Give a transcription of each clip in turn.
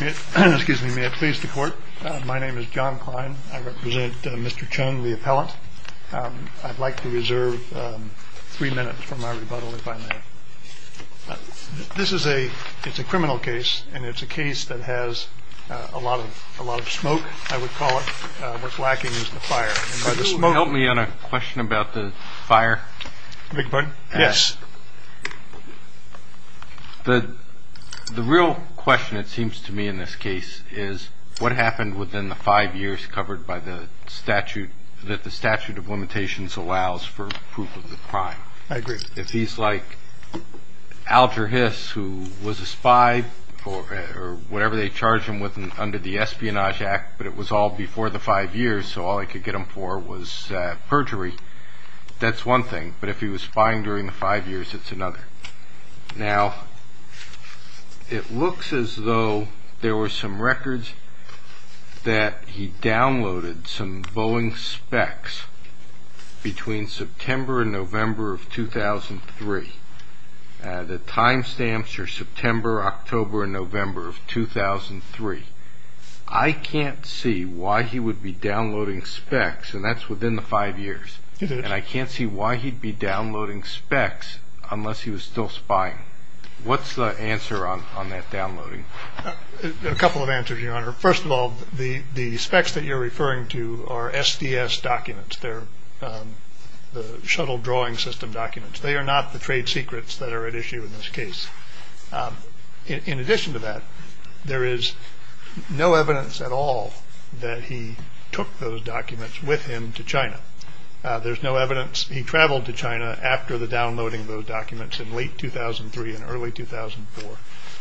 May I please the court? My name is John Klein. I represent Mr. Chung, the appellant. I'd like to reserve three minutes for my rebuttal, if I may. This is a criminal case, and it's a case that has a lot of smoke, I would call it. What's lacking is the fire. May you help me on a question about the fire? The real question, it seems to me in this case, is what happened within the five years covered by the statute that the statute of limitations allows for proof of the crime? I agree. If he's like Alger Hiss, who was a spy, or whatever they charged him with under the Espionage Act, but it was all before the five years, so all they could get him for was perjury, that's one thing. But if he was spying during the five years, it's another. Now, it looks as though there were some records that he downloaded some Boeing specs between September and November of 2003. The time stamps are September, October, and November of 2003. I can't see why he would be downloading specs, and that's within the five years. And I can't see why he'd be downloading specs unless he was still spying. What's the answer on that downloading? A couple of answers, Your Honor. First of all, the specs that you're referring to are SDS documents. They're the Shuttle Drawing System documents. They are not the trade secrets that are at issue in this case. In addition to that, there is no evidence at all that he took those documents with him to China. There's no evidence he traveled to China after the downloading of those documents in late 2003 and early 2004.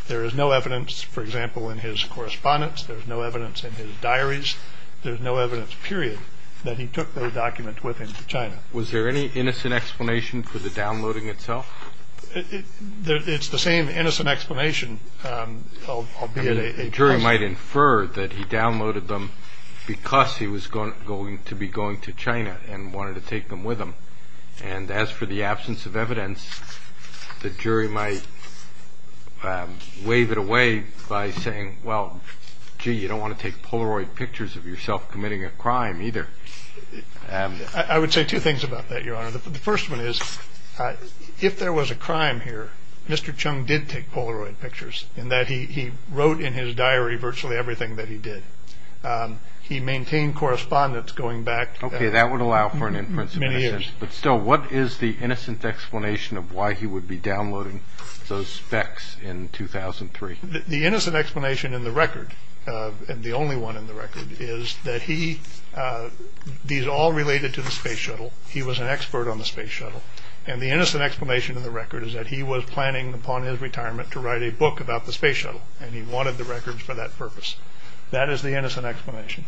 There is no evidence, for example, in his correspondence. There's no evidence in his diaries. There's no evidence, period, that he took those documents with him to China. Was there any innocent explanation for the downloading itself? It's the same innocent explanation, albeit a question. The jury might infer that he downloaded them because he was going to be going to China and wanted to take them with him. And as for the absence of evidence, the jury might wave it away by saying, well, gee, you don't want to take Polaroid pictures of yourself committing a crime either. I would say two things about that, Your Honor. The first one is, if there was a crime here, Mr. Chung did take Polaroid pictures in that he wrote in his diary virtually everything that he did. He maintained correspondence going back many years. But still, what is the innocent explanation of why he would be downloading those specs in 2003? The innocent explanation in the record, and the only one in the record, is that these all related to the space shuttle. He was an expert on the space shuttle. And the innocent explanation in the record is that he was planning upon his retirement to write a book about the space shuttle, and he wanted the records for that purpose. That is the innocent explanation.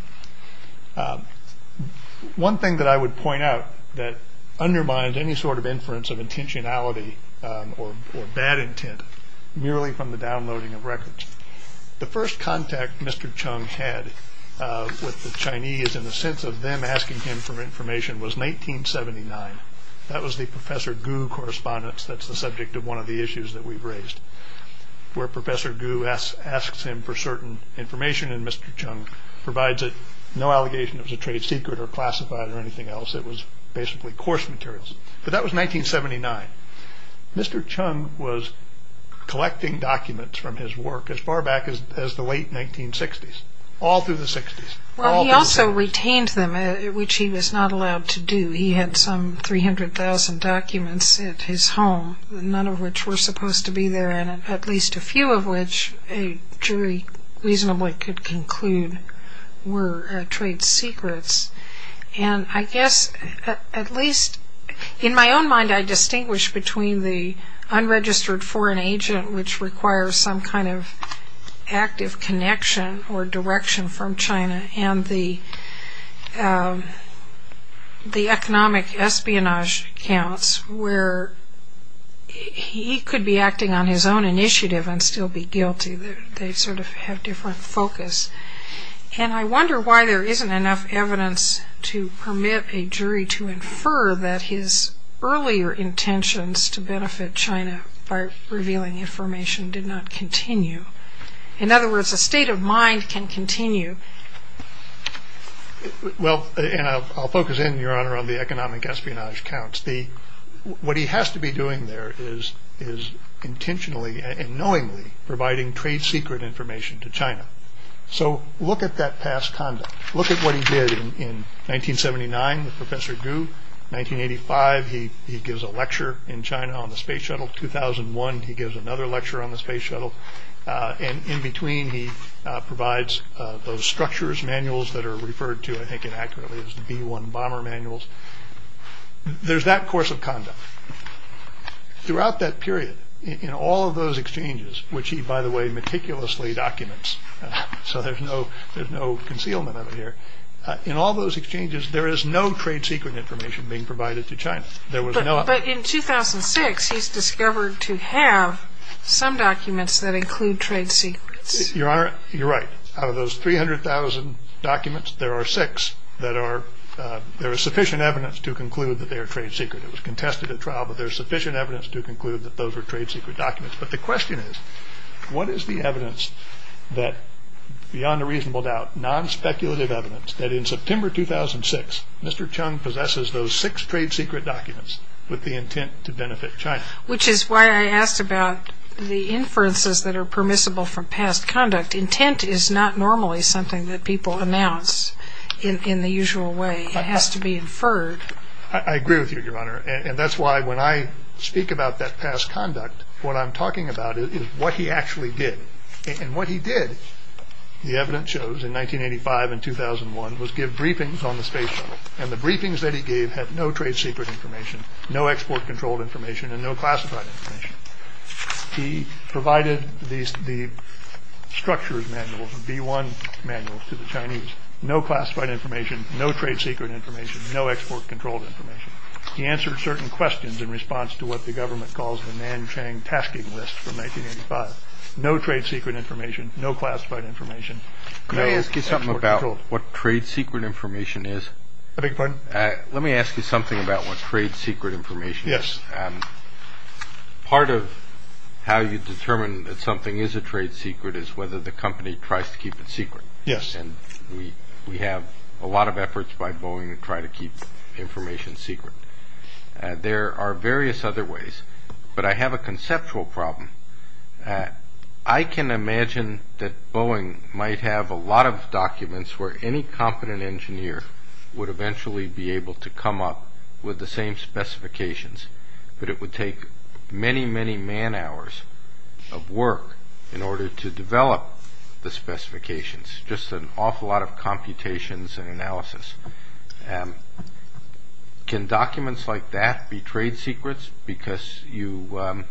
One thing that I would point out that undermines any sort of inference of intentionality or bad intent, merely from the downloading of records. The first contact Mr. Chung had with the Chinese in the sense of them asking him for information was in 1879. That was the Professor Gu correspondence that's the subject of one of the issues that we've raised. Where Professor Gu asks him for certain information, and Mr. Chung provides it. No allegation that it was a trade secret or classified or anything else. It was basically coarse materials. But that was 1979. Mr. Chung was collecting documents from his work as far back as the late 1960s. All through the 60s. Well, he also retained them, which he was not allowed to do. He had some 300,000 documents at his home, none of which were supposed to be there, and at least a few of which a jury reasonably could conclude were trade secrets. And I wonder why there isn't enough evidence to permit a jury to infer that his earlier intentions to benefit China by revealing information did not continue. In other words, a state of mind can continue. Well, I'll focus in, Your Honor, on the economic espionage counts. What he has to be doing there is intentionally and knowingly providing trade secret information to China. So look at that past conduct. Look at what he did in 1979 with Professor Gu. 1985, he gives a lecture in China on the space shuttle. 2001, he gives another lecture on the space shuttle. And in between, he provides those structures, manuals that are referred to, I think inaccurately, as the B-1 bomber manuals. There's that course of conduct. Throughout that period, in all of those exchanges, which he, by the way, meticulously documents, so there's no concealment over here, in all those exchanges, there is no trade secret information being provided to China. But in 2006, he's discovered to have some documents that include trade secrets. Your Honor, you're right. Out of those 300,000 documents, there are six that are, there is sufficient evidence to conclude that they are trade secret. It was contested at trial, but there's sufficient evidence to conclude that those are trade secret documents. But the question is, what is the evidence that, beyond a reasonable doubt, non-speculative evidence, that in September 2006, Mr. Chung possesses those six trade secret documents with the intent to benefit China? Which is why I asked about the inferences that are permissible from past conduct. Intent is not normally something that people announce in the usual way. It has to be inferred. I agree with you, Your Honor, and that's why when I speak about that past conduct, what I'm talking about is what he actually did. And what he did, the evidence shows, in 1985 and 2001, was give briefings on the space shuttle. And the briefings that he gave had no trade secret information, no export-controlled information, and no classified information. He provided the structures manuals, the B1 manuals to the Chinese. No classified information, no trade secret information, no export-controlled information. He answered certain questions in response to what the government calls the Nanchang Tasking List from 1985. No trade secret information, no classified information. Can I ask you something about what trade secret information is? I beg your pardon? Let me ask you something about what trade secret information is. Yes. Part of how you determine that something is a trade secret is whether the company tries to keep it secret. Yes. And we have a lot of efforts by Boeing to try to keep information secret. There are various other ways, but I have a conceptual problem. I can imagine that Boeing might have a lot of documents where any competent engineer would eventually be able to come up with the same specifications. But it would take many, many man hours of work in order to develop the specifications, just an awful lot of computations and analysis. Can documents like that be trade secrets because the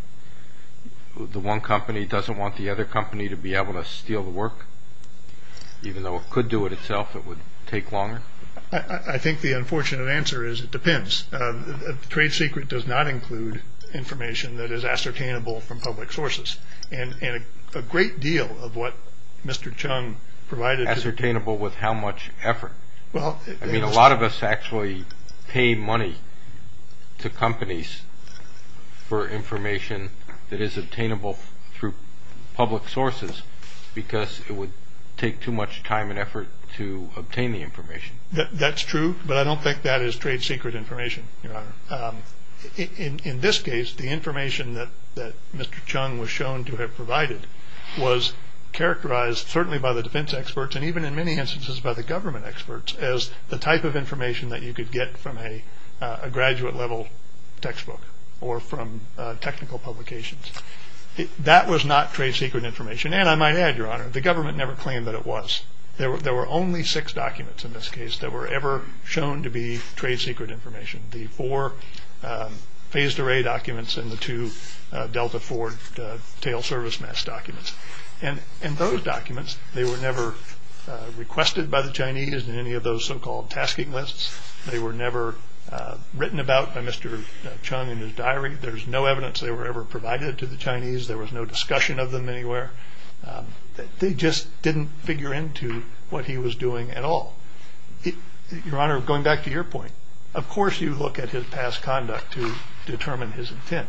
one company doesn't want the other company to be able to steal the work? Even though it could do it itself, it would take longer? I think the unfortunate answer is it depends. A trade secret does not include information that is ascertainable from public sources. And a great deal of what Mr. Chung provided is ascertainable with how much effort. I mean, a lot of us actually pay money to companies for information that is obtainable through public sources because it would take too much time and effort to obtain the information. That's true, but I don't think that is trade secret information, Your Honor. In this case, the information that Mr. Chung was shown to have provided was characterized, certainly by the defense experts and even in many instances by the government experts, as the type of information that you could get from a graduate level textbook or from technical publications. That was not trade secret information. And I might add, Your Honor, the government never claimed that it was. There were only six documents in this case that were ever shown to be trade secret information. The four phased array documents and the two Delta Ford tail service mess documents. And those documents, they were never requested by the Chinese in any of those so-called tasking lists. They were never written about by Mr. Chung in his diary. There's no evidence they were ever provided to the Chinese. There was no discussion of them anywhere. They just didn't figure into what he was doing at all. Your Honor, going back to your point, of course you look at his past conduct to determine his intent.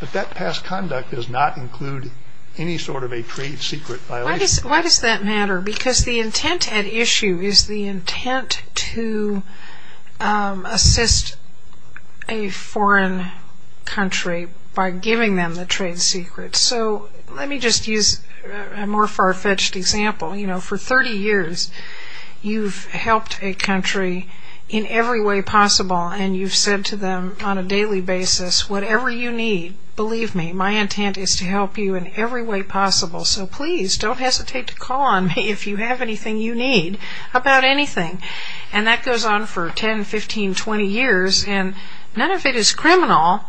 But that past conduct does not include any sort of a trade secret violation. Why does that matter? Because the intent at issue is the intent to assist a foreign country by giving them the trade secret. So let me just use a more far-fetched example. You know, for 30 years you've helped a country in every way possible, and you've said to them on a daily basis, whatever you need, believe me, my intent is to help you in every way possible. So please don't hesitate to call on me if you have anything you need about anything. And that goes on for 10, 15, 20 years. And none of it is criminal,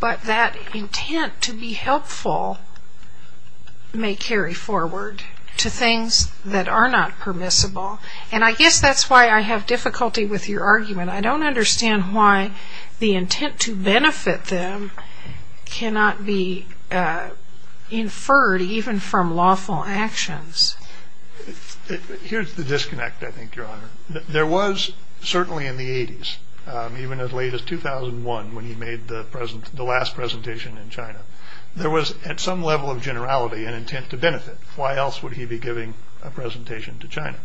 but that intent to be helpful may carry forward to things that are not permissible. And I guess that's why I have difficulty with your argument. I don't understand why the intent to benefit them cannot be inferred even from lawful actions. Here's the disconnect, I think, Your Honor. There was certainly in the 80s, even as late as 2001 when he made the last presentation in China, there was at some level of generality an intent to benefit. Why else would he be giving a presentation to China?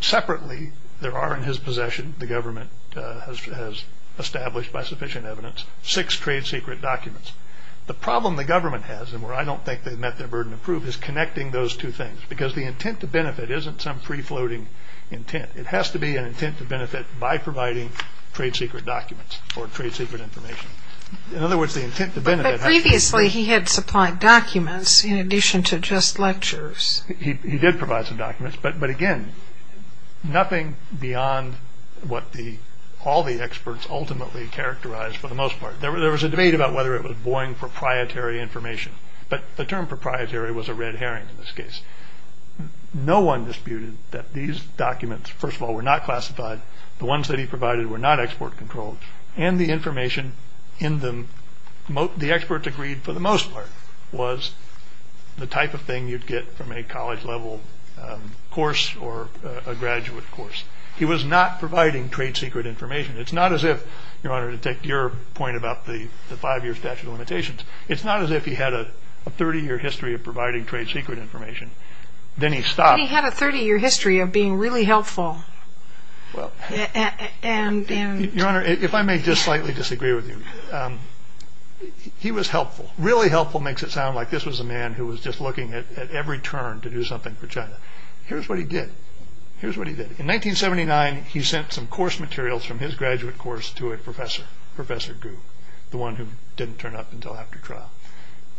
Separately, there are in his possession, the government has established by sufficient evidence, six trade secret documents. The problem the government has, and where I don't think they've met their burden of proof, is connecting those two things, because the intent to benefit isn't some free-floating intent. It has to be an intent to benefit by providing trade secret documents or trade secret information. In other words, the intent to benefit has to be... But previously he had supplied documents in addition to just lectures. He did provide some documents, but again, nothing beyond what all the experts ultimately characterized for the most part. There was a debate about whether it was boring proprietary information, but the term proprietary was a red herring in this case. No one disputed that these documents, first of all, were not classified. The ones that he provided were not export-controlled, and the information in them, the experts agreed for the most part, was the type of thing you'd get from a college-level course or a graduate course. He was not providing trade secret information. It's not as if, Your Honor, to take your point about the five-year statute of limitations, it's not as if he had a 30-year history of providing trade secret information. Then he stopped. But he had a 30-year history of being really helpful. Your Honor, if I may just slightly disagree with you, he was helpful. Really helpful makes it sound like this was a man who was just looking at every turn to do something for China. Here's what he did. Here's what he did. In 1979, he sent some course materials from his graduate course to a professor, Professor Gu, the one who didn't turn up until after trial.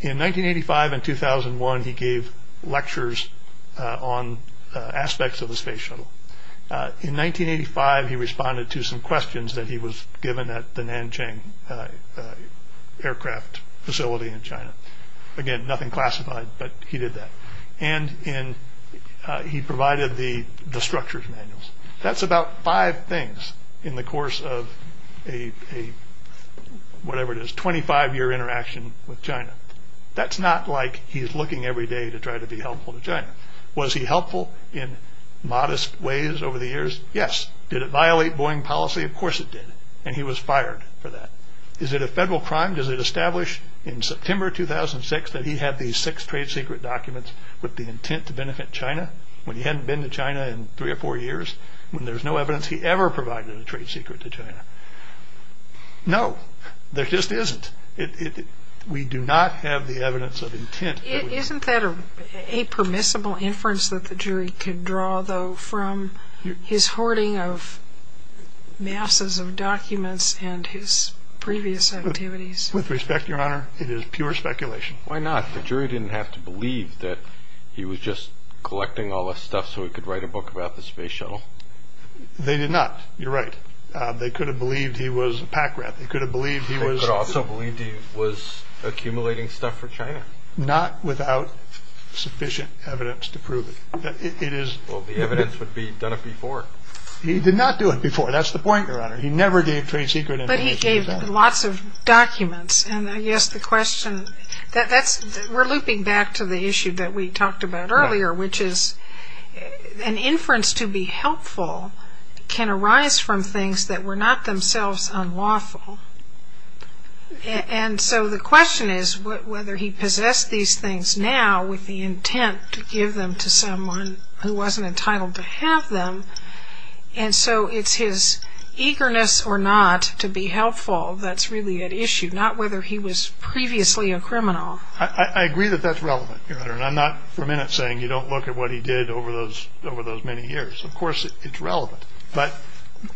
In 1985 and 2001, he gave lectures on aspects of the space shuttle. In 1985, he responded to some questions that he was given at the Nanjing aircraft facility in China. Again, nothing classified, but he did that. And he provided the structures manuals. That's about five things in the course of a, whatever it is, 25-year interaction with China. That's not like he's looking every day to try to be helpful to China. Was he helpful in modest ways over the years? Yes. Did it violate Boeing policy? Of course it did. And he was fired for that. Is it a federal crime? Does it establish in September 2006 that he had these six trade secret documents with the intent to benefit China, when he hadn't been to China in three or four years, when there's no evidence he ever provided a trade secret to China? No. There just isn't. We do not have the evidence of intent. Isn't that a permissible inference that the jury could draw, though, from his hoarding of masses of documents and his previous activities? With respect, Your Honor, it is pure speculation. Why not? The jury didn't have to believe that he was just collecting all this stuff so he could write a book about the space shuttle. They did not. You're right. They could have believed he was a pack rat. They could have believed he was accumulating stuff for China. Not without sufficient evidence to prove it. Well, the evidence would be he'd done it before. He did not do it before. That's the point, Your Honor. He never gave trade secret information. But he gave lots of documents. And I guess the question, we're looping back to the issue that we talked about earlier, which is an inference to be helpful can arise from things that were not themselves unlawful. And so the question is whether he possessed these things now with the intent to give them to someone who wasn't entitled to have them. And so it's his eagerness or not to be helpful that's really at issue, not whether he was previously a criminal. I agree that that's relevant, Your Honor. And I'm not for a minute saying you don't look at what he did over those many years. Of course it's relevant. But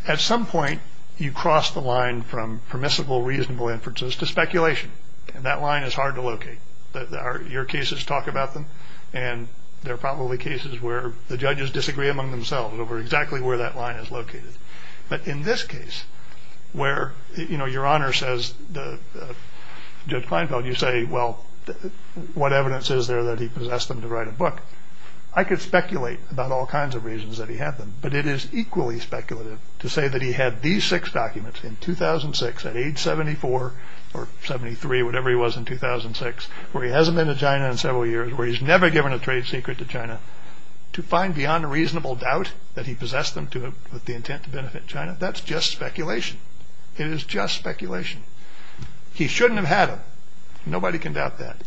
at some point, you cross the line from permissible, reasonable inferences to speculation. And that line is hard to locate. Your cases talk about them. And there are probably cases where the judges disagree among themselves over exactly where that line is located. But in this case, where, you know, Your Honor says, Judge Kleinfeld, you say, well, what evidence is there that he possessed them to write a book? I could speculate about all kinds of reasons that he had them. But it is equally speculative to say that he had these six documents in 2006 at age 74 or 73, whatever he was in 2006, where he hasn't been to China in several years, where he's never given a trade secret to China, to find beyond a reasonable doubt that he possessed them with the intent to benefit China. That's just speculation. It is just speculation. He shouldn't have had them. Nobody can doubt that.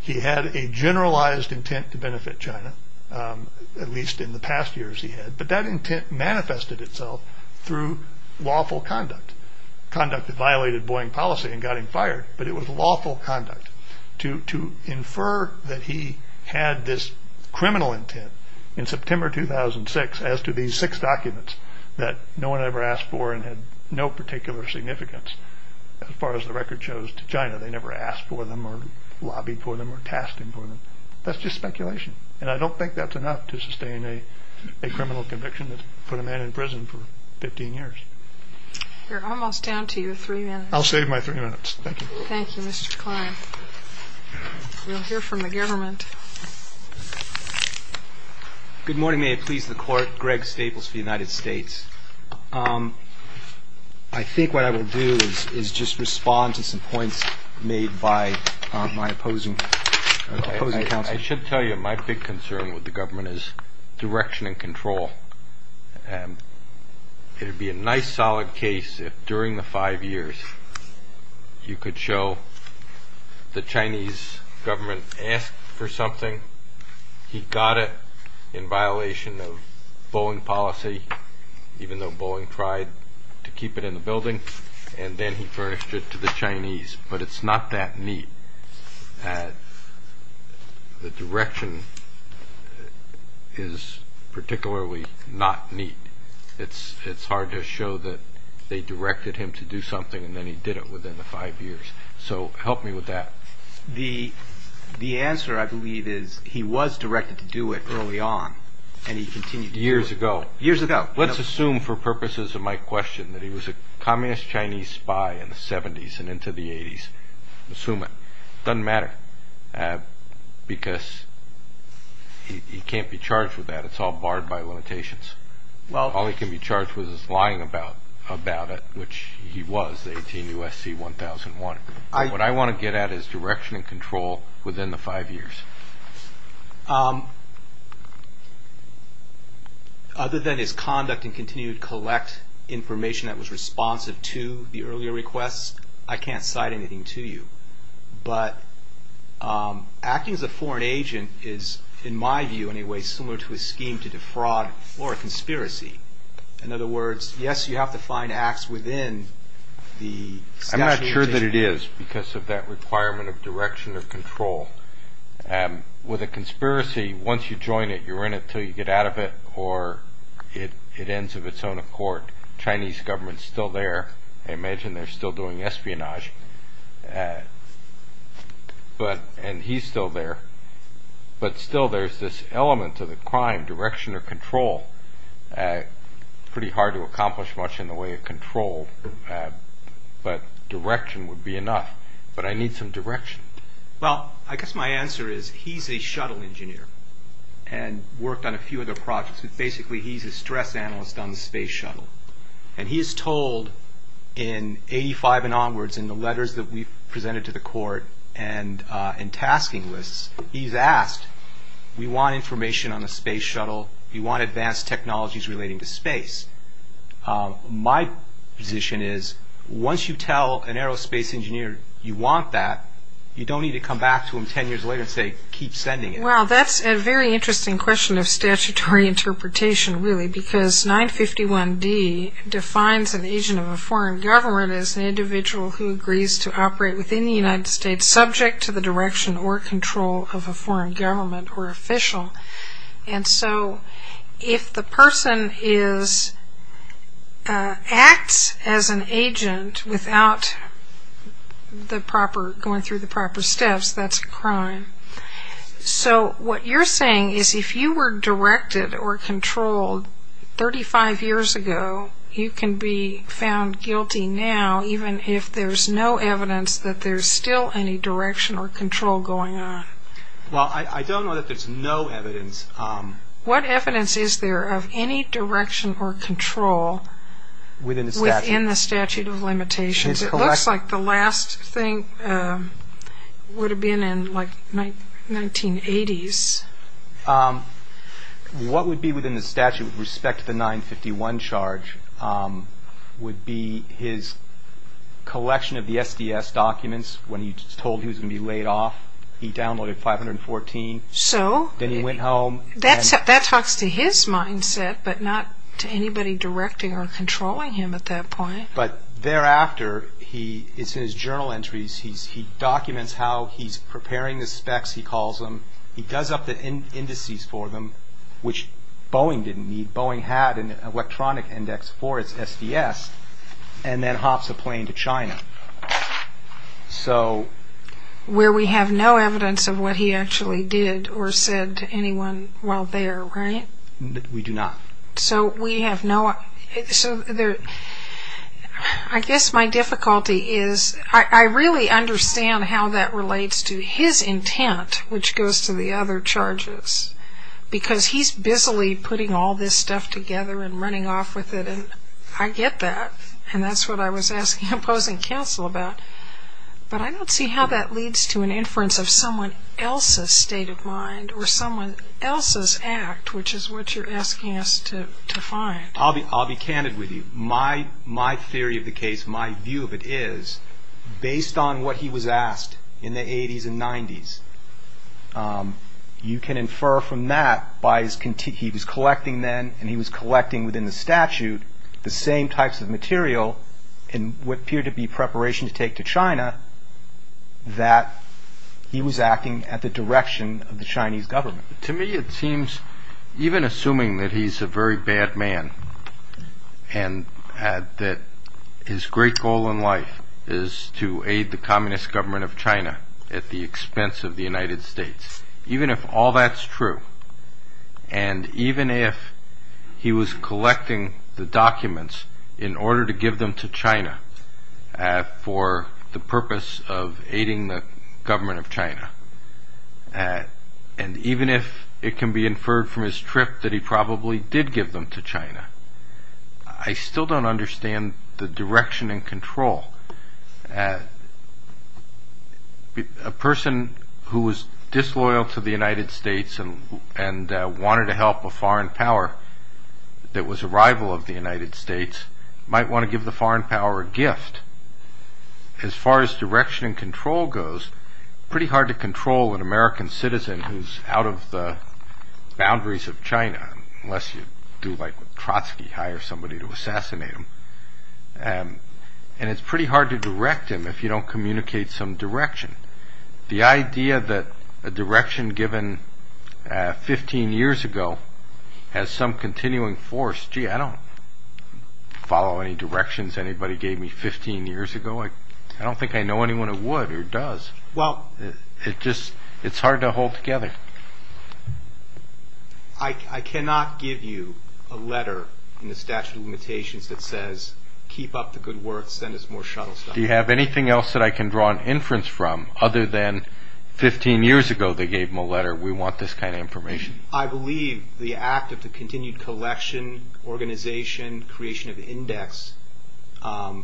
He had a generalized intent to benefit China, at least in the past years he had. But that intent manifested itself through lawful conduct. Conduct that violated Boeing policy and got him fired. But it was lawful conduct to infer that he had this criminal intent in September 2006 as to these six documents that no one ever asked for and had no particular significance, as far as the record shows, to China. They never asked for them or lobbied for them or tasked him for them. That's just speculation. And I don't think that's enough to sustain a criminal conviction that put a man in prison for 15 years. We're almost down to your three minutes. I'll save my three minutes. Thank you. Thank you, Mr. Klein. We'll hear from the government. Good morning. May it please the Court. Greg Staples for the United States. I think what I will do is just respond to some points made by my opposing counsel. I should tell you my big concern with the government is direction and control. It would be a nice solid case if during the five years you could show the Chinese government asked for something, he got it in violation of Boeing policy, even though Boeing tried to keep it in the building, and then he furnished it to the Chinese. But it's not that neat. The direction is particularly not neat. It's hard to show that they directed him to do something and then he did it within the five years. So help me with that. The answer, I believe, is he was directed to do it early on and he continued to do it. Years ago. Years ago. Let's assume for purposes of my question that he was a communist Chinese spy in the 70s and into the 80s. Assume it. It doesn't matter because he can't be charged with that. It's all barred by limitations. All he can be charged with is lying about it, which he was, the 18 U.S.C. 1001. What I want to get at is direction and control within the five years. Other than his conduct and continued collect information that was responsive to the earlier requests, I can't cite anything to you. But acting as a foreign agent is, in my view anyway, similar to a scheme to defraud or a conspiracy. In other words, yes, you have to find acts within the statute. I'm sure that it is because of that requirement of direction of control. With a conspiracy, once you join it, you're in it until you get out of it or it ends of its own accord. The Chinese government is still there. I imagine they're still doing espionage. And he's still there. But still there's this element of the crime, direction of control. It's pretty hard to accomplish much in the way of control, but direction would be enough. But I need some direction. Well, I guess my answer is he's a shuttle engineer and worked on a few other projects. But basically he's a stress analyst on the space shuttle. And he is told in 1985 and onwards in the letters that we've presented to the court and in tasking lists, he's asked, we want information on the space shuttle. We want advanced technologies relating to space. My position is once you tell an aerospace engineer you want that, you don't need to come back to him ten years later and say keep sending it. Well, that's a very interesting question of statutory interpretation really because 951D defines an agent of a foreign government as an individual who agrees to operate within the United States subject to the direction or control of a foreign government or official. And so if the person acts as an agent without going through the proper steps, that's a crime. So what you're saying is if you were directed or controlled 35 years ago, you can be found guilty now even if there's no evidence that there's still any direction or control going on. Well, I don't know that there's no evidence. What evidence is there of any direction or control within the statute of limitations? It looks like the last thing would have been in like 1980s. What would be within the statute with respect to the 951 charge would be his collection of the SDS documents. When he was told he was going to be laid off, he downloaded 514. So? Then he went home. That talks to his mindset but not to anybody directing or controlling him at that point. But thereafter, it's in his journal entries, he documents how he's preparing the specs he calls them. He does up the indices for them, which Boeing didn't need. Boeing had an electronic index for its SDS and then hops a plane to China. Where we have no evidence of what he actually did or said to anyone while there, right? We do not. I guess my difficulty is I really understand how that relates to his intent, which goes to the other charges. Because he's busily putting all this stuff together and running off with it and I get that. And that's what I was asking opposing counsel about. But I don't see how that leads to an inference of someone else's state of mind or someone else's act, which is what you're asking us to find. I'll be candid with you. My theory of the case, my view of it is, based on what he was asked in the 80s and 90s, you can infer from that, he was collecting then and he was collecting within the statute, the same types of material in what appeared to be preparation to take to China, that he was acting at the direction of the Chinese government. To me it seems, even assuming that he's a very bad man, and that his great goal in life is to aid the communist government of China at the expense of the United States, even if all that's true, and even if he was collecting the documents in order to give them to China for the purpose of aiding the government of China, and even if it can be inferred from his trip that he probably did give them to China, I still don't understand the direction and control. A person who was disloyal to the United States and wanted to help a foreign power that was a rival of the United States might want to give the foreign power a gift. As far as direction and control goes, it's pretty hard to control an American citizen who's out of the boundaries of China, unless you do like Trotsky, hire somebody to assassinate him, and it's pretty hard to direct him if you don't communicate some direction. The idea that a direction given 15 years ago has some continuing force, gee, I don't follow any directions anybody gave me 15 years ago. I don't think I know anyone who would or does. It's hard to hold together. I cannot give you a letter in the statute of limitations that says, keep up the good work, send us more shuttle stuff. Do you have anything else that I can draw an inference from, other than 15 years ago they gave him a letter, we want this kind of information? I believe the act of the continued collection, organization, creation of index, an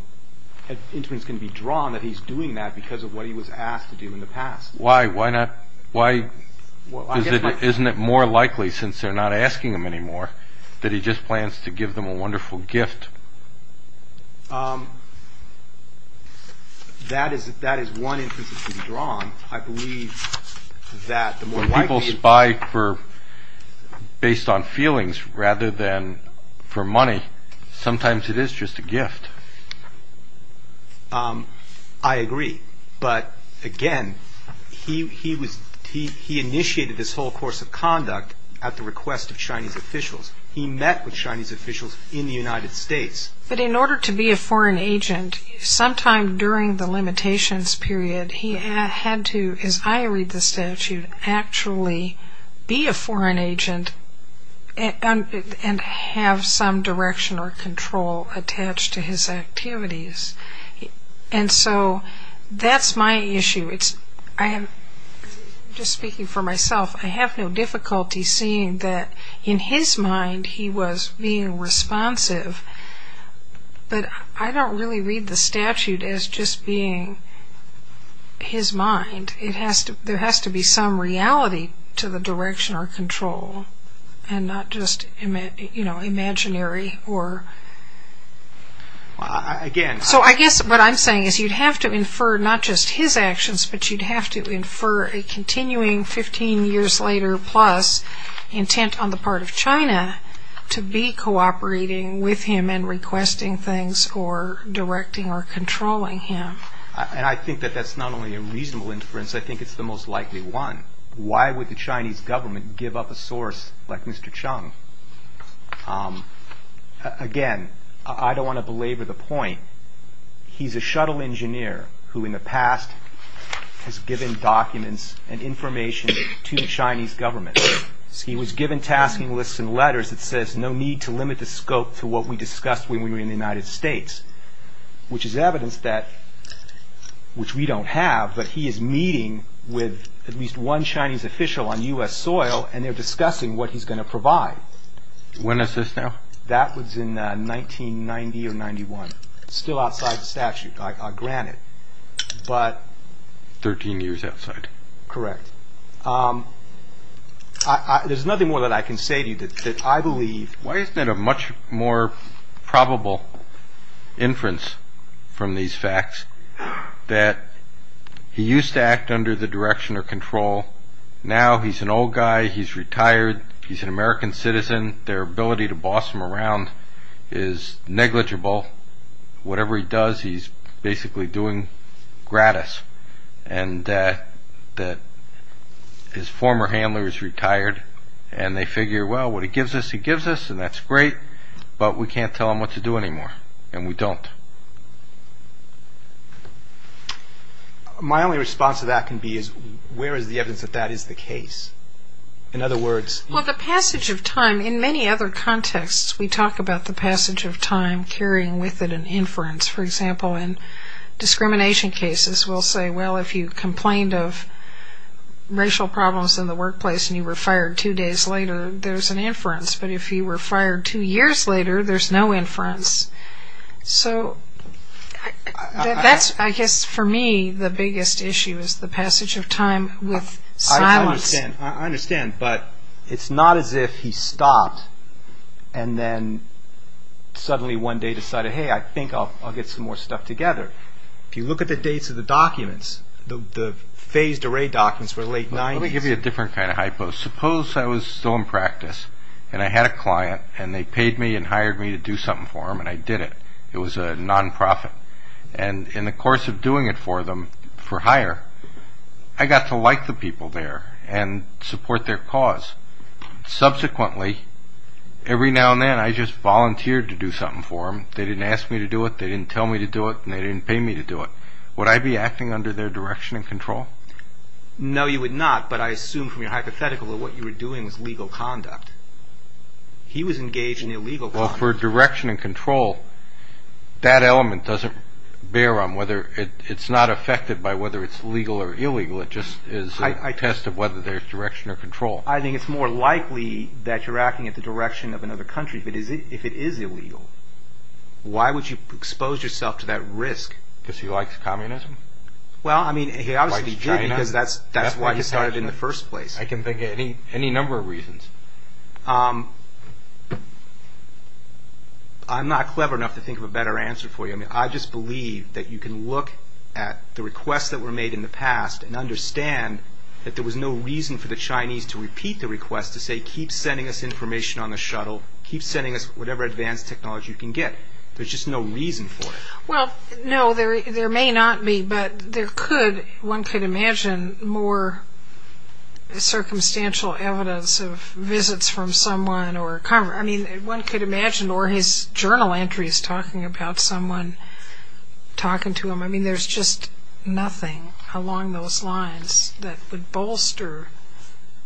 inference can be drawn that he's doing that because of what he was asked to do in the past. Why? Isn't it more likely, since they're not asking him anymore, that he just plans to give them a wonderful gift? That is one inference that can be drawn. When people spy based on feelings rather than for money, sometimes it is just a gift. I agree. But again, he initiated this whole course of conduct at the request of Chinese officials. He met with Chinese officials in the United States. But in order to be a foreign agent, sometime during the limitations period, he had to, as I read the statute, actually be a foreign agent and have some direction or control attached to his activities. And so that's my issue. Just speaking for myself, I have no difficulty seeing that in his mind he was being responsive. But I don't really read the statute as just being his mind. There has to be some reality to the direction or control and not just imaginary. So I guess what I'm saying is you'd have to infer not just his actions, but you'd have to infer a continuing 15 years later plus intent on the part of China to be cooperating with him in requesting things or directing or controlling him. And I think that that's not only a reasonable inference. I think it's the most likely one. Why would the Chinese government give up a source like Mr. Cheng? Again, I don't want to belabor the point. He's a shuttle engineer who in the past has given documents and information to the Chinese government. He was given tasking lists and letters that says, no need to limit the scope to what we discussed when we were in the United States. Which is evidence that, which we don't have, but he is meeting with at least one Chinese official on U.S. soil and they're discussing what he's going to provide. When is this now? That was in 1990 or 91. Still outside the statute, granted. Thirteen years outside. Correct. There's nothing more that I can say to you that I believe. Why isn't it a much more probable inference from these facts that he used to act under the direction of control. Now he's an old guy. He's retired. He's an American citizen. Their ability to boss him around is negligible. Whatever he does, he's basically doing gratis. And that his former handler is retired and they figure, well, what he gives us, he gives us. And that's great. But we can't tell him what to do anymore. And we don't. My only response to that can be is, where is the evidence that that is the case? In other words. Well, the passage of time, in many other contexts, we talk about the passage of time carrying with it an inference. For example, in discrimination cases, we'll say, well, if you complained of racial problems in the workplace and you were fired two days later, there's an inference. But if you were fired two years later, there's no inference. So that's, I guess for me, the biggest issue is the passage of time with silence. I understand. I understand. But it's not as if he stopped and then suddenly one day decided, hey, I think I'll get some more stuff together. If you look at the dates of the documents, the phased array documents for the late 90s. Let me give you a different kind of hypo. Suppose I was still in practice and I had a client and they paid me and hired me to do something for them and I did it. It was a nonprofit. And in the course of doing it for them, for hire, I got to like the people there and support their cause. Subsequently, every now and then, I just volunteered to do something for them. They didn't ask me to do it. They didn't tell me to do it. They didn't pay me to do it. Would I be acting under their direction and control? No, you would not. But I assume from your hypothetical that what you were doing was legal conduct. He was engaged in illegal conduct. Well, for direction and control, that element doesn't bear on whether it's not affected by whether it's legal or illegal. It just is a test of whether there's direction or control. I think it's more likely that you're acting in the direction of another country if it is illegal. Why would you expose yourself to that risk? Because he likes communism? Well, I mean, he obviously did because that's why he started in the first place. I can think of any number of reasons. I'm not clever enough to think of a better answer for you. I just believe that you can look at the requests that were made in the past and understand that there was no reason for the Chinese to repeat the request to say, keep sending us information on the shuttle, keep sending us whatever advanced technology you can get. There's just no reason for it. Well, no, there may not be, but one could imagine more circumstantial evidence of visits from someone. One could imagine, or his journal entries talking about someone talking to him. I mean, there's just nothing along those lines that would bolster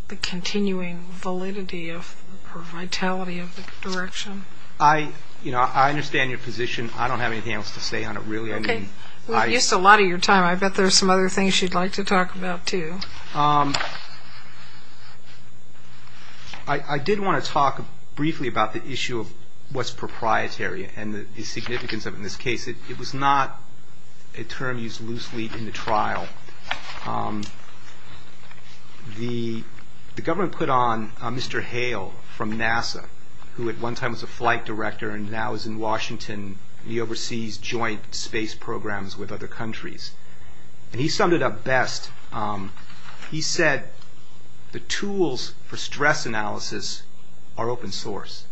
the continuing validity or vitality of the direction. I understand your position. I don't have anything else to say on it, really. Okay. We've used a lot of your time. I bet there's some other things you'd like to talk about, too. I did want to talk briefly about the issue of what's proprietary and the significance of it in this case. It was not a term used loosely in the trial. The government put on Mr. Hale from NASA, who at one time was a flight director and now is in Washington. He oversees joint space programs with other countries. And he summed it up best. He said the tools for stress analysis are open source.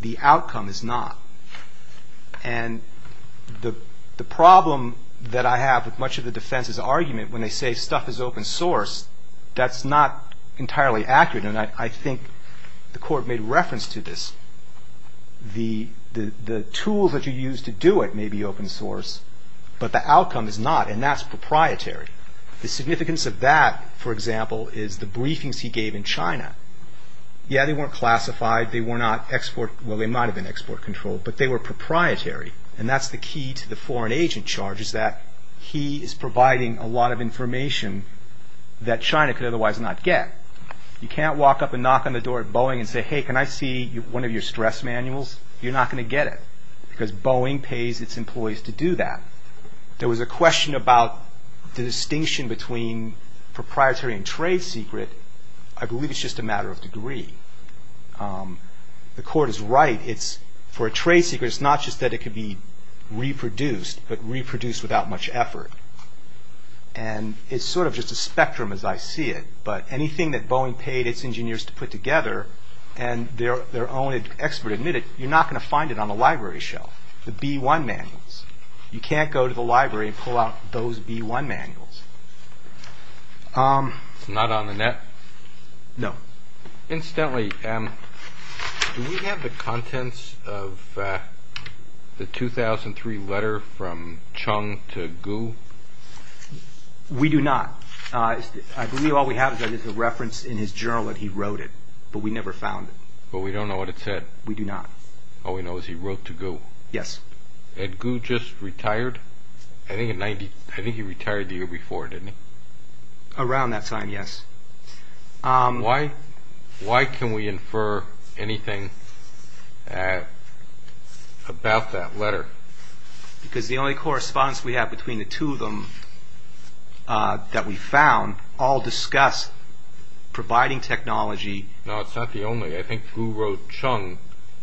The outcome is not. And the problem that I have with much of the defense's argument when they say stuff is open source, that's not entirely accurate. And I think the court made reference to this. The tools that you use to do it may be open source, but the outcome is not, and that's proprietary. The significance of that, for example, is the briefings he gave in China. Yeah, they weren't classified. They were not export – well, they might have been export controlled, but they were proprietary. And that's the key to the foreign agent charges, that he is providing a lot of information that China could otherwise not get. You can't walk up and knock on the door at Boeing and say, hey, can I see one of your stress manuals? You're not going to get it, because Boeing pays its employees to do that. There was a question about the distinction between proprietary and trade secret. I believe it's just a matter of degree. The court is right. For a trade secret, it's not just that it could be reproduced, but reproduced without much effort. And it's sort of just a spectrum as I see it. But anything that Boeing paid its engineers to put together, and their own expert admitted, you're not going to find it on the library shelf, the B-1 manuals. You can't go to the library and pull out those B-1 manuals. It's not on the net? No. Incidentally, do we have the contents of the 2003 letter from Chung to Gu? We do not. I believe all we have is a reference in his journal that he wrote it, but we never found it. But we don't know what it said? We do not. All we know is he wrote to Gu. Yes. Had Gu just retired? I think he retired the year before, didn't he? Around that time, yes. Why can we infer anything about that letter? Because the only correspondence we have between the two of them that we found all discuss providing technology. No, it's not the only. I think Gu wrote Chung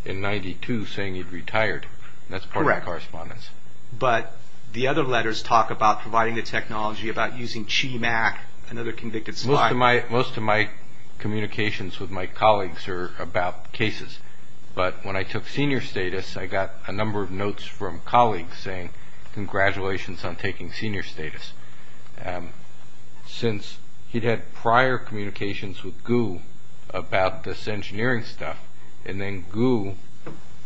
in 1992 saying he'd retired. That's part of the correspondence. Correct. But the other letters talk about providing the technology, about using CHIMAC, another convicted spy. Most of my communications with my colleagues are about cases. But when I took senior status, I got a number of notes from colleagues saying, congratulations on taking senior status. Since he'd had prior communications with Gu about this engineering stuff, and then Gu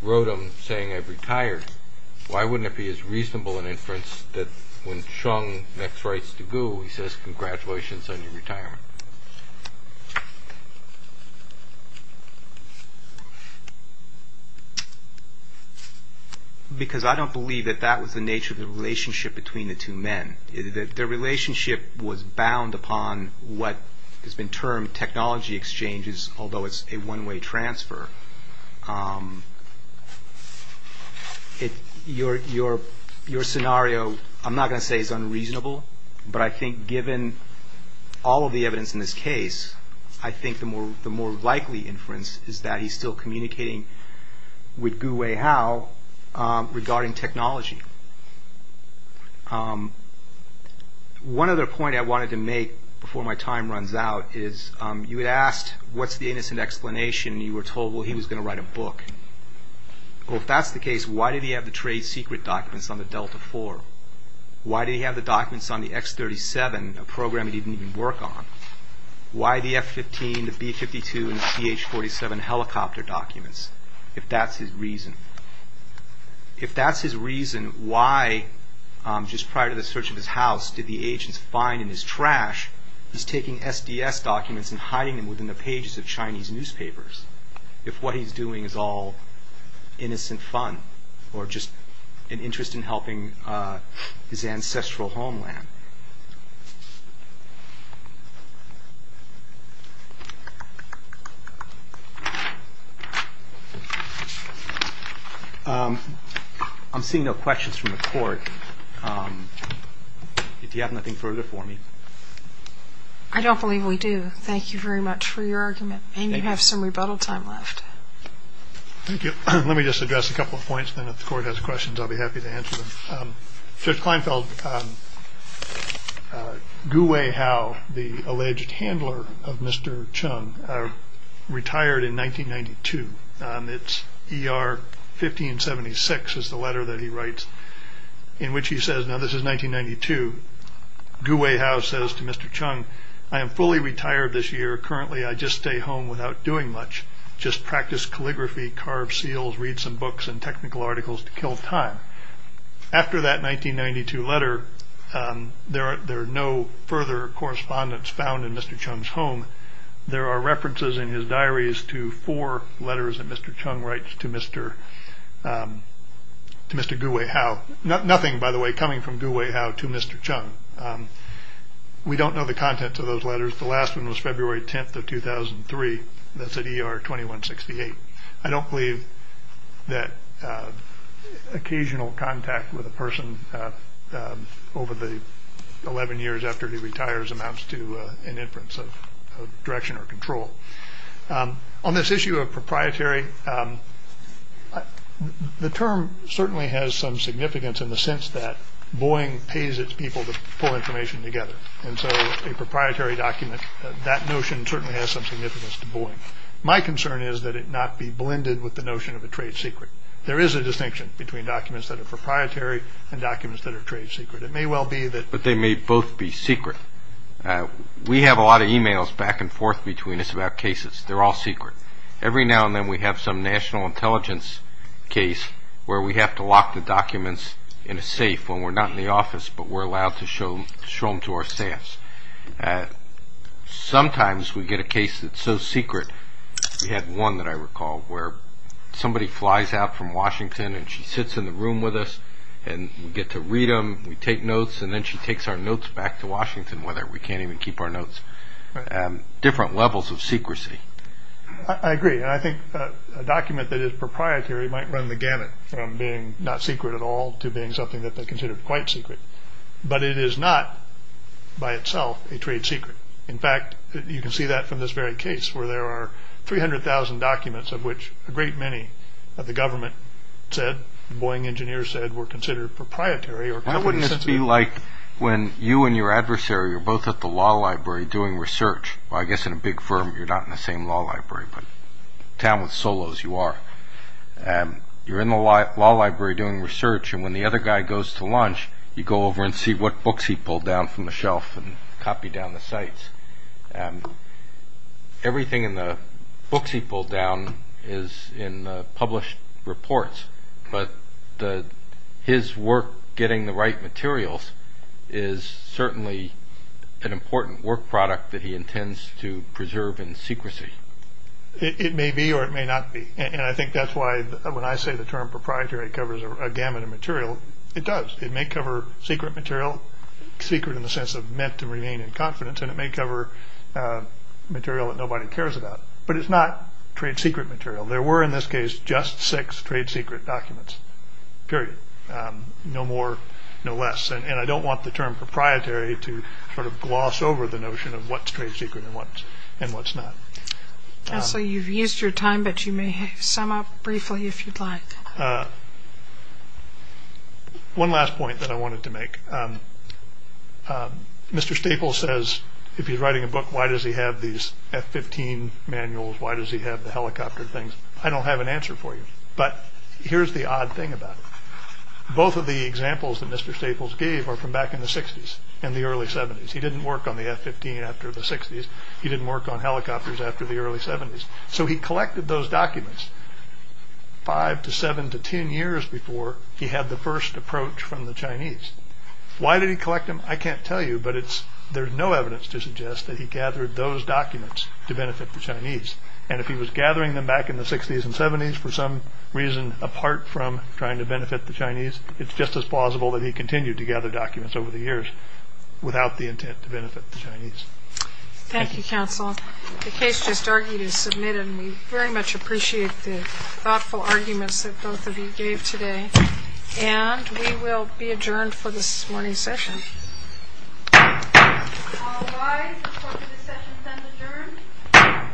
wrote him saying I've retired, why wouldn't it be as reasonable an inference that when Chung next writes to Gu, he says congratulations on your retirement? Because I don't believe that that was the nature of the relationship between the two men. Their relationship was bound upon what has been termed technology exchanges, although it's a one-way transfer. Your scenario, I'm not going to say is unreasonable, but I think given all of the evidence in this case, I think the more likely inference is that he's still communicating with Gu Weihao regarding technology. One other point I wanted to make before my time runs out is, you had asked what's the innocent explanation, and you were told he was going to write a book. Well, if that's the case, why did he have the trade secret documents on the Delta IV? Why did he have the documents on the X-37, a program he didn't even work on? Why the F-15, the B-52, and the CH-47 helicopter documents, if that's his reason? If that's his reason, why, just prior to the search of his house, did the agents find in his trash, he's taking SDS documents and hiding them within the pages of Chinese newspapers, if what he's doing is all innocent fun, or just an interest in helping his ancestral homeland? I'm seeing no questions from the Court. Do you have anything further for me? I don't believe we do. Thank you very much for your argument, and you have some rebuttal time left. Thank you. Let me just address a couple of points, and then if the Court has questions, I'll be happy to answer them. Gu Weihao, the alleged handler of Mr. Cheng, retired in 1992. It's ER 1576 is the letter that he writes, in which he says, now this is 1992, Gu Weihao says to Mr. Cheng, I am fully retired this year. Currently, I just stay home without doing much, just practice calligraphy, carve seals, read some books and technical articles to kill time. After that 1992 letter, there are no further correspondence found in Mr. Cheng's home. There are references in his diaries to four letters that Mr. Cheng writes to Mr. Gu Weihao. Nothing, by the way, coming from Gu Weihao to Mr. Cheng. We don't know the contents of those letters. The last one was February 10th of 2003. That's at ER 2168. I don't believe that occasional contact with a person over the 11 years after he retires amounts to an inference of direction or control. On this issue of proprietary, the term certainly has some significance in the sense that Boeing pays its people to pull information together. And so a proprietary document, that notion certainly has some significance to Boeing. My concern is that it not be blended with the notion of a trade secret. There is a distinction between documents that are proprietary and documents that are trade secret. It may well be that they may both be secret. We have a lot of e-mails back and forth between us about cases. They're all secret. Every now and then we have some national intelligence case where we have to lock the documents in a safe when we're not in the office, but we're allowed to show them to our staffs. Sometimes we get a case that's so secret. We had one that I recall where somebody flies out from Washington and she sits in the room with us and we get to read them. We take notes and then she takes our notes back to Washington with her. We can't even keep our notes. Different levels of secrecy. I agree. I think a document that is proprietary might run the gamut from being not secret at all to being something that they consider quite secret. But it is not by itself a trade secret. In fact, you can see that from this very case where there are 300,000 documents of which a great many of the government said, the Boeing engineers said were considered proprietary or company sensitive. Why wouldn't this be like when you and your adversary are both at the law library doing research? I guess in a big firm you're not in the same law library, but in a town with Solos you are. You're in the law library doing research and when the other guy goes to lunch, you go over and see what books he pulled down from the shelf and copy down the sites. Everything in the books he pulled down is in published reports, but his work getting the right materials is certainly an important work product that he intends to preserve in secrecy. It may be or it may not be, and I think that's why when I say the term proprietary covers a gamut of material, it does. It may cover secret material, secret in the sense of meant to remain in confidence, and it may cover material that nobody cares about. But it's not trade secret material. There were in this case just six trade secret documents, period. No more, no less. And I don't want the term proprietary to sort of gloss over the notion of what's trade secret and what's not. So you've used your time, but you may sum up briefly if you'd like. One last point that I wanted to make. Mr. Staples says if he's writing a book, why does he have these F-15 manuals? Why does he have the helicopter things? I don't have an answer for you, but here's the odd thing about it. Both of the examples that Mr. Staples gave are from back in the 60s and the early 70s. He didn't work on the F-15 after the 60s. He didn't work on helicopters after the early 70s. So he collected those documents five to seven to ten years before he had the first approach from the Chinese. Why did he collect them? I can't tell you, but there's no evidence to suggest that he gathered those documents to benefit the Chinese. And if he was gathering them back in the 60s and 70s for some reason apart from trying to benefit the Chinese, it's just as plausible that he continued to gather documents over the years without the intent to benefit the Chinese. Thank you, counsel. The case just argued is submitted, and we very much appreciate the thoughtful arguments that both of you gave today. And we will be adjourned for this morning's session. All rise. The court of this session is adjourned.